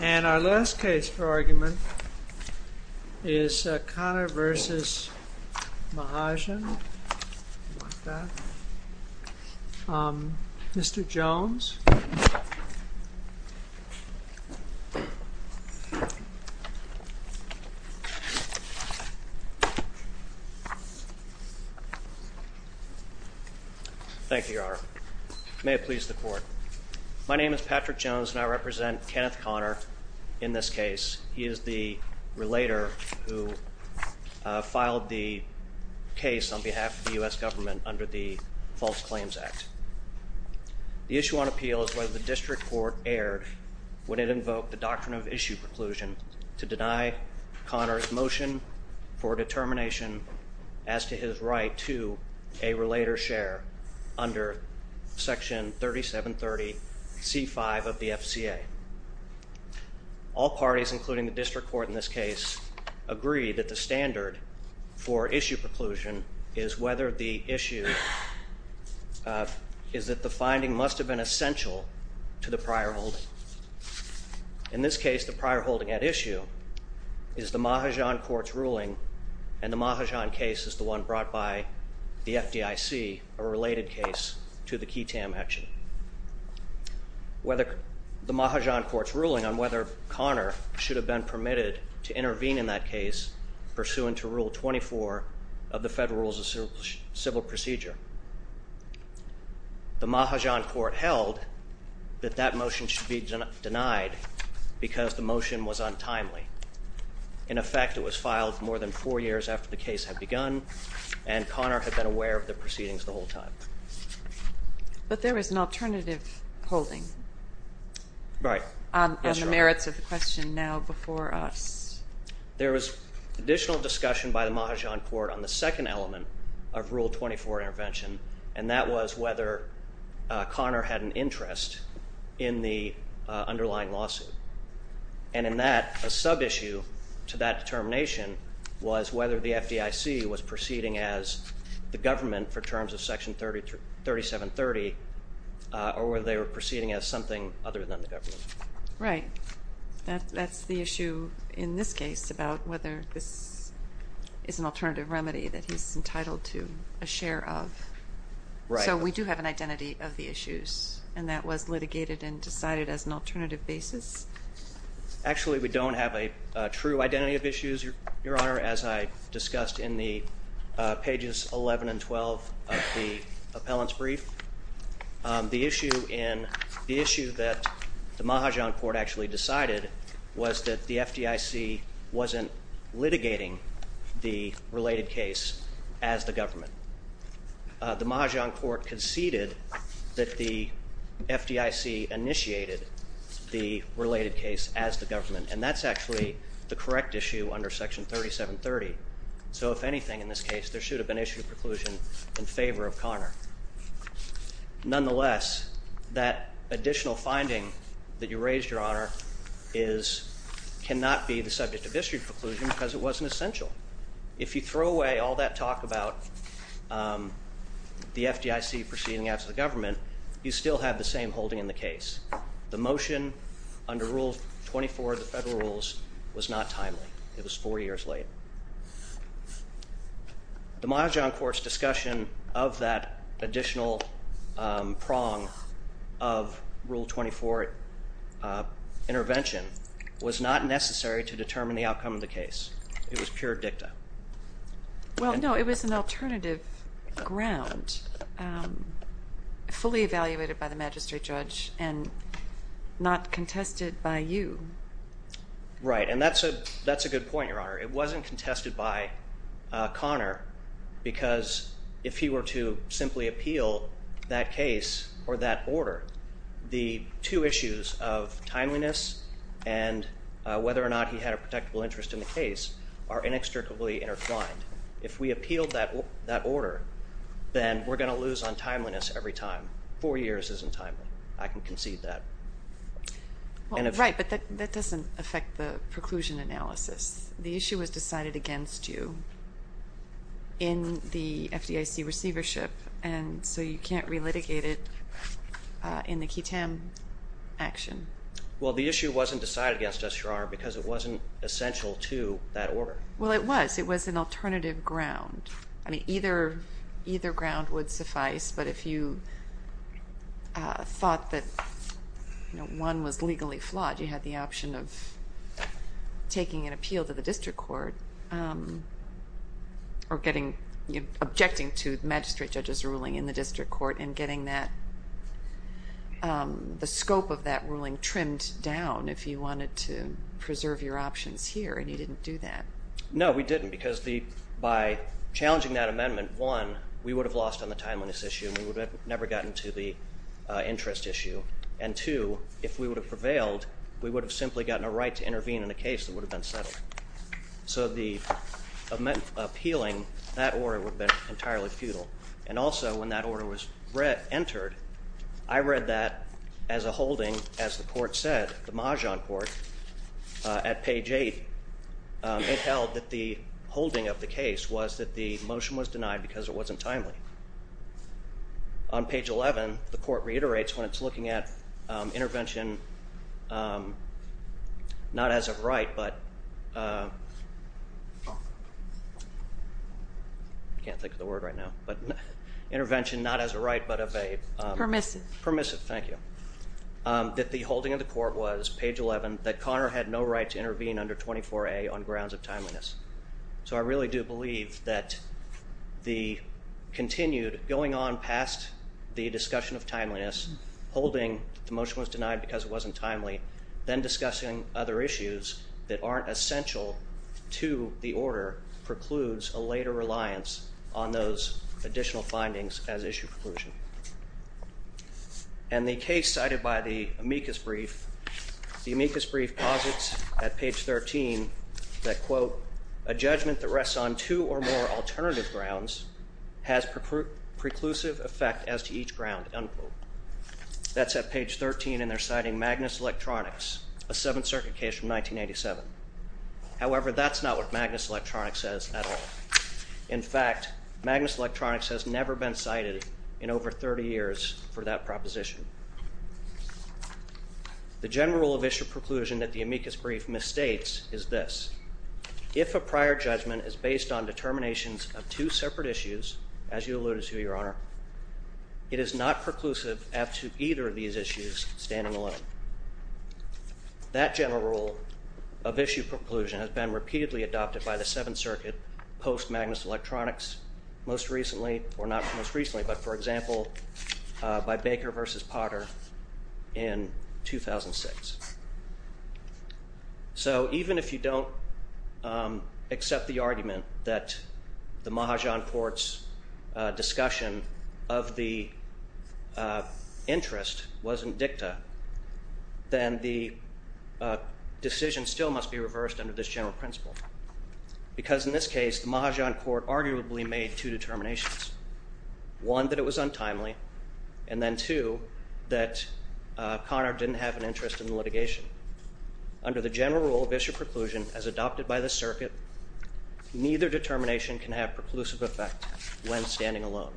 And our last case for argument is Conner v. Mahajan. Mr. Jones. Thank you, Your Honor. May it please the court. My name is Patrick Jones and I represent Kenneth Conner in this case. He is the relator who filed the case on behalf of the U.S. government under the False Claims Act. The issue on appeal is whether the district court erred when it invoked the Doctrine of Issue preclusion to deny Conner's motion for determination as to his right to a relator's share under Section 3730C5 of the FCA. All parties, including the district court in this case, agree that the standard for issue preclusion is whether the issue is that the finding must have been essential to the prior holding. In this case, the prior holding at issue is the Mahajan court's ruling, and the Mahajan case is the one brought by the FDIC, a related case to the QITAM action. The Mahajan court's ruling on whether Conner should have been permitted to intervene in that case pursuant to Rule 24 of the Federal Rules of Civil Procedure. The Mahajan court held that that motion should be denied because the motion was untimely. In effect, it was filed more than four years after the case had begun, and Conner had been aware of the proceedings the whole time. But there was an alternative holding on the merits of the question now before us. There was additional discussion by the Mahajan court on the second element of Rule 24 intervention, and that was whether Conner had an interest in the underlying lawsuit. And in that, a sub-issue to that determination was whether the FDIC was proceeding as the government for terms of Section 3730, or whether they were proceeding as something other than the government. Right. That's the issue in this case about whether this is an alternative remedy that he's entitled to a share of. Right. So we do have an identity of the issues, and that was litigated and decided as an alternative basis? Actually, we don't have a true identity of issues, Your Honor, as I discussed in the pages 11 and 12 of the appellant's brief. The issue in, the issue that the Mahajan court actually decided was that the FDIC wasn't litigating the related case as the government. The Mahajan court conceded that the FDIC initiated the related case as the government, and that's actually the correct issue under Section 3730. So if anything in this case, there should have been issue of preclusion in favor of Conner. Nonetheless, that additional finding that you raised, Your Honor, is, cannot be the subject of history preclusion because it wasn't essential. If you throw away all that talk about the FDIC proceeding as the government, you still have the same holding in the case. The motion under Rule 24 of the federal rules was not timely. It was four years late. The Mahajan court's discussion of that additional prong of Rule 24 intervention was not necessary to determine the outcome of the case. It was pure dicta. Well, no, it was an alternative ground fully evaluated by the magistrate judge and not contested by you. Right, and that's a good point, Your Honor. It wasn't contested by Conner because if he were to simply appeal that case or that order, the two issues of timeliness and whether or not he had a protectable interest in the case are inextricably intertwined. If we appealed that order, then we're going to lose on timeliness every time. Four years isn't timely. I can concede that. Right, but that doesn't affect the preclusion analysis. The issue was decided against you in the FDIC receivership, and so you can't relitigate it in the QITAM action. Well, the issue wasn't decided against us, Your Honor, because it wasn't essential to that order. Well, it was. It was an alternative ground. I mean, either ground would suffice, but if you thought that one was legally flawed, you had the option of taking an appeal to the district court or objecting to the magistrate judge's ruling in the district court and getting the scope of that ruling trimmed down if you wanted to preserve your options here, and you didn't do that. No, we didn't, because by challenging that amendment, one, we would have lost on the timeliness issue and we would have never gotten to the interest issue, and two, if we would have prevailed, we would have simply gotten a right to intervene in a case that would have been settled. So appealing that order would have been entirely futile, and also when that order was entered, I read that as a holding, as the court said, the Mahjong Court, at page 8, it held that the holding of the case was that the motion was denied because it wasn't timely. On page 11, the court reiterates when it's looking at intervention not as a right, but, I can't think of the word right now, but intervention not as a right, but of a, permissive, thank you, that the holding of the court was, page 11, that Connor had no right to intervene under 24A on grounds of timeliness. So I really do believe that the continued going on past the discussion of timeliness, holding the motion was denied because it wasn't timely, then discussing other issues that aren't essential to the case. And the case cited by the amicus brief, the amicus brief posits at page 13 that, quote, a judgment that rests on two or more alternative grounds has preclusive effect as to each ground, unquote. That's at page 13, and they're citing Magnus Electronics, a Seventh Circuit case from 1987. However, that's not what Magnus Electronics says at all. In fact, Magnus Electronics has never been cited in over 30 years for that proposition. The general rule of issue preclusion that the amicus brief misstates is this. If a prior judgment is based on determinations of two separate issues, as you alluded to, Your Honor, it is not preclusive as to either of these issues standing alone. That general rule of post Magnus Electronics most recently, or not most recently, but for example, by Baker versus Potter in 2006. So even if you don't accept the argument that the Mahajan Court's discussion of the interest wasn't dicta, then the decision still must be reversed under this general principle. Because in this case, the Mahajan Court arguably made two determinations. One that it was untimely, and then two, that Conard didn't have an interest in the litigation. Under the general rule of issue preclusion as adopted by the circuit, neither determination can have preclusive effect when standing alone.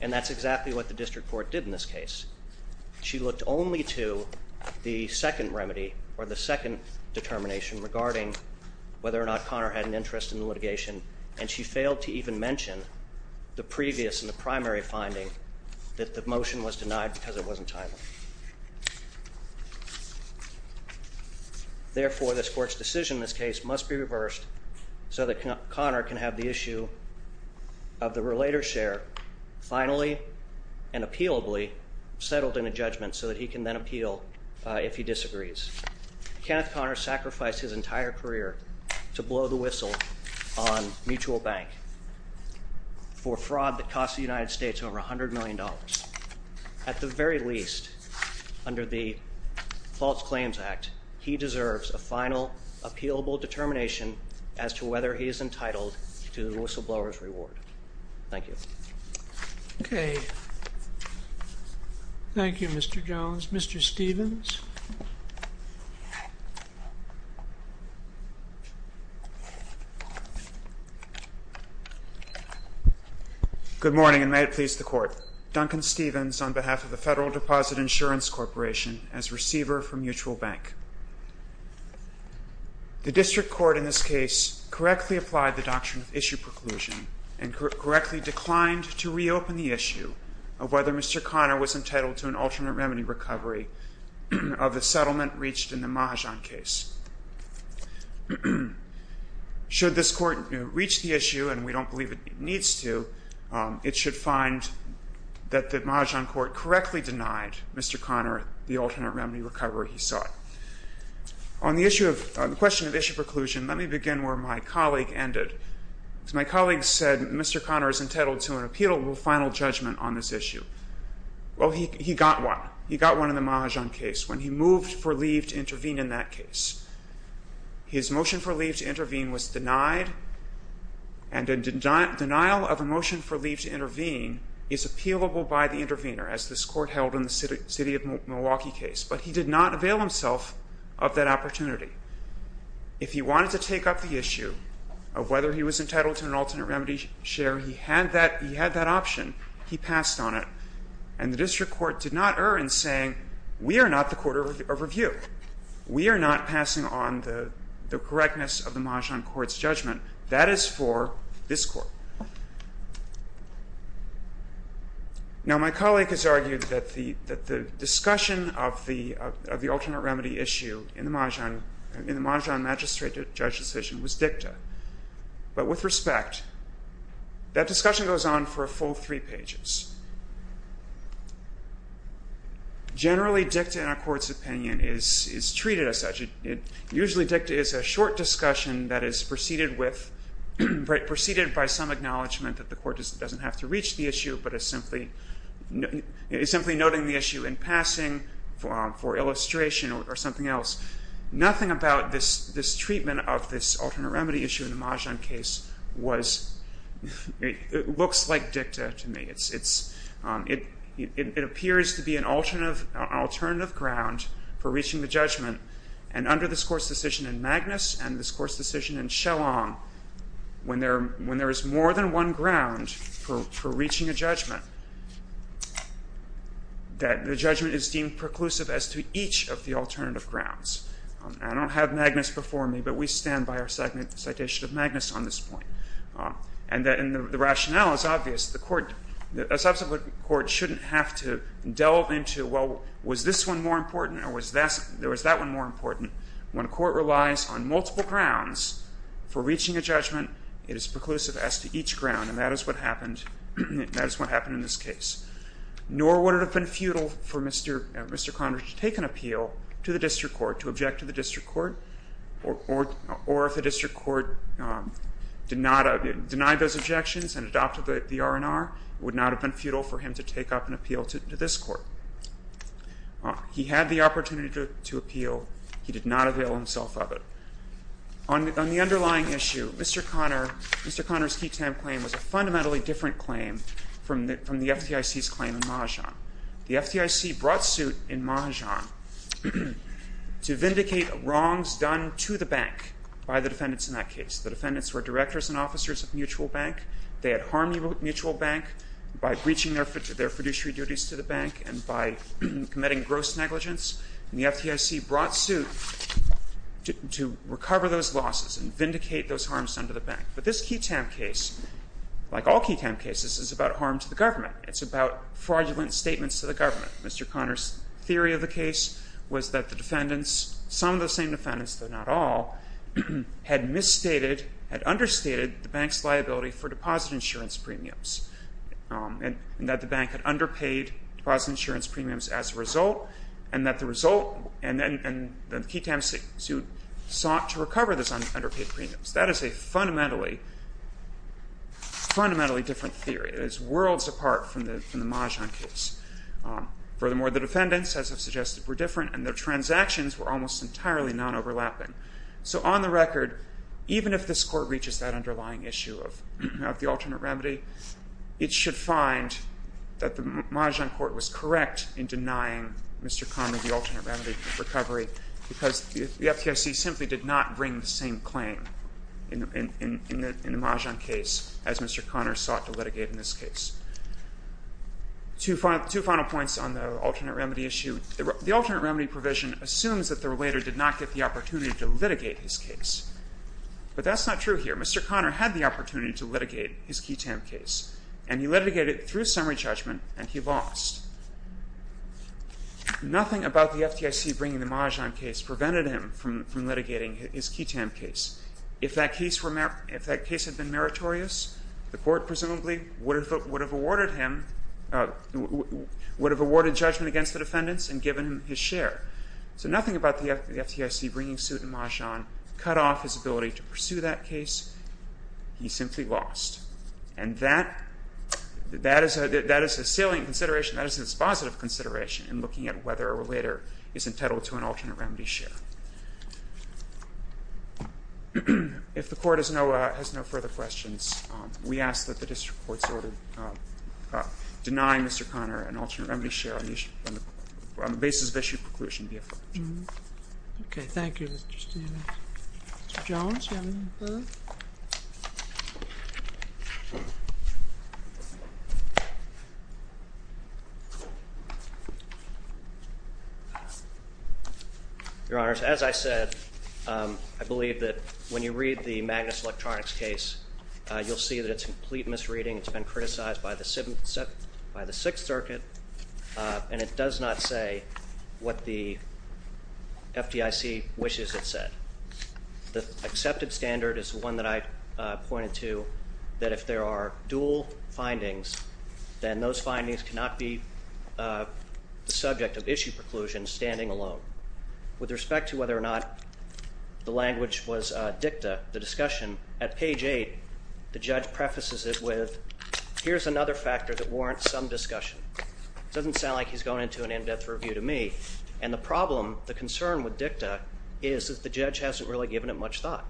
And that's exactly what the district court did in this case. She looked only to the second remedy, or the second determination regarding whether or not Conard had an interest in the litigation, and she failed to even mention the previous and the primary finding that the motion was denied because it wasn't timely. Therefore, this court's decision in this case must be reversed so that Conard can have the issue of the relator's share finally and appealably settled in a judgment so that he can then appeal if he disagrees. Kenneth Conard sacrificed his entire career to blow the whistle on mutual bank for fraud that cost the United States over $100 million. At the very least, under the False Claims Act, he deserves a final appealable determination as to whether he is entitled to the whistleblower's reward. Thank you. Okay. Thank you, Mr. Jones. Mr. Stevens. Good morning, and may it please the Court. Duncan Stevens, on behalf of the Federal Deposit Insurance Corporation, as receiver for mutual bank. The district court in this case correctly applied the Doctrine of Issue Preclusion and correctly declined to reopen the issue of whether Mr. Conard was entitled to an alternate remedy recovery of the settlement reached in the Mahajan case. Should this court reach the issue, and we don't believe it needs to, it should find that the Mahajan court correctly and denied Mr. Conard the alternate remedy recovery he sought. On the question of issue preclusion, let me begin where my colleague ended. My colleague said Mr. Conard is entitled to an appealable final judgment on this issue. Well, he got one. He got one in the Mahajan case when he moved for leave to intervene in that case. His motion for leave to intervene was denied, and a denial of a motion for leave to intervene is appealable by the intervener, as this court held in the city of Milwaukee case, but he did not avail himself of that opportunity. If he wanted to take up the issue of whether he was entitled to an alternate remedy share, he had that option. He passed on it, and the district court did not err in saying, we are not the court of review. We are not passing on the correctness of the Mahajan court's judgment. That is for this court. Now my colleague has argued that the discussion of the alternate remedy issue in the Mahajan magistrate judge decision was dicta, but with respect, that discussion goes on for a full three pages. Generally, dicta in a court's opinion is treated as such. It is treated as a short discussion that is preceded by some acknowledgment that the court doesn't have to reach the issue, but is simply noting the issue in passing for illustration or something else. Nothing about this treatment of this alternate remedy issue in the Mahajan case looks like dicta to me. It appears to be an alternative ground for reaching the judgment, and under this Court's decision in Magnus and this Court's decision in Shellong, when there is more than one ground for reaching a judgment, that the judgment is deemed preclusive as to each of the alternative grounds. I don't have Magnus before me, but we stand by our citation of Magnus on this point. And the rationale is obvious. The court, a subsequent court, shouldn't have to delve into, well, was this one more important or was that one more important? When a court relies on multiple grounds for reaching a judgment, it is preclusive as to each ground, and that is what happened in this case. Nor would it have been futile for Mr. Conrad to take an appeal to the district court, to object to the district court, or if the district court denied those objections and adopted the R&R, it would not have been futile for him to take up an appeal to this court. He had the opportunity to appeal. He did not avail himself of it. On the underlying issue, Mr. Conrad's key time claim was a fundamentally different claim from the FDIC's claim in Mahajan. The FDIC brought suit in Mahajan to vindicate wrongs done to the bank by the defendants in that case. The defendants were directors and officers of Mutual Bank. They had harmed Mutual Bank by breaching their fiduciary duties to the bank and by committing gross negligence, and the FDIC brought suit to recover those losses and vindicate those harms done to the bank. But this key time case, like all key time cases, is about harm to the government. It's about fraudulent statements to the government. Mr. Conrad's theory of the case was that the defendants, some of the same defendants, though not all, had misstated, had understated the bank's liability for deposit insurance premiums, and that the bank had underpaid deposit insurance premiums as a result, and that the result, and then the key time suit sought to recover those underpaid premiums. That is a fundamentally, fundamentally different theory. It is worlds apart from the Mahajan case. Furthermore, the defendants, as I've suggested, were different, and their transactions were almost entirely non-overlapping. So on the record, even if this Court reaches that underlying issue of the alternate remedy, it should find that the Mahajan Court was correct in denying Mr. Conrad the alternate remedy recovery, because the FDIC simply did not bring the same claim in the Mahajan case as Mr. Conrad sought to litigate in this case. Two final points on the alternate remedy issue. The alternate remedy provision assumes that the relator did not get the opportunity to litigate in the Mahajan case. But that's not true here. Mr. Conrad had the opportunity to litigate his key time case, and he litigated it through summary judgment, and he lost. Nothing about the FDIC bringing the Mahajan case prevented him from litigating his key time case. If that case had been meritorious, the Court presumably would have awarded him – would have awarded judgment against the defendants and given him his share. So nothing about the FDIC bringing suit in Mahajan cut off his ability to pursue that case. He simply lost. And that – that is a salient consideration. That is a dispositive consideration in looking at whether a relator is entitled to an alternate remedy share. If the Court has no further questions, we ask that the district court's order deny Mr. Conrad an alternate remedy share on the basis of issued preclusion be affirmed. Okay. Thank you, Mr. Stanley. Mr. Jones, do you have any further? Your Honors, as I said, I believe that when you read the Magnus Electronics case, you'll see that it's complete misreading. It's been criticized by the – by the Sixth Circuit, and it does not say what the FDIC wishes it said. The accepted standard is the one that I pointed to, that if there are dual findings, then those findings cannot be the subject of issue preclusion standing alone. With respect to whether or not the language was dicta, the discussion, at page 8, the judge prefaces it with, here's another factor that warrants some discussion. It doesn't sound like he's going into an in-depth review to me. And the problem, the concern with dicta, is that the judge hasn't really given it much thought.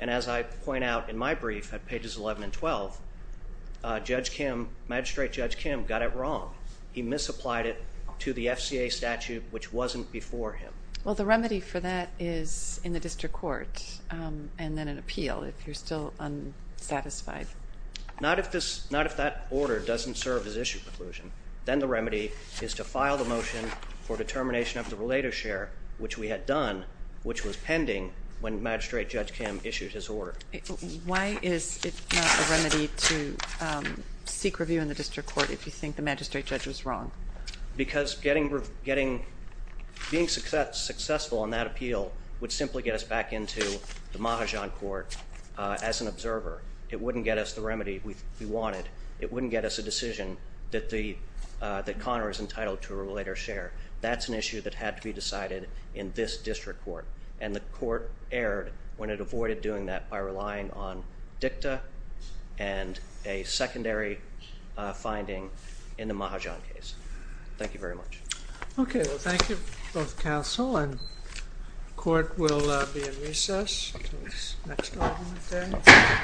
And as I point out in my brief at pages 11 and 12, Judge Kim, Magistrate Judge Kim, got it wrong. He misapplied it to the FCA statute, which wasn't before him. Well, the remedy for that is in the district court, and then an appeal, if you're still unsatisfied. Not if this – not if that order doesn't serve as issue preclusion. Then the remedy is to file the motion for determination of the relator share, which we had done, which was pending when Magistrate Judge Kim issued his order. Why is it not a remedy to seek review in the district court if you think the magistrate judge was wrong? Because getting – being successful in that appeal would simply get us back into the Mahajan court as an observer. It wouldn't get us the remedy we wanted. It wouldn't get us a decision that the – that Connor is entitled to a relator share. That's an issue that had to be decided in this district court. And the court erred when it avoided doing that by relying on dicta and a secondary finding in the Mahajan case. Thank you very much. Okay. Well, thank you both counsel, and court will be in recess until next argument day.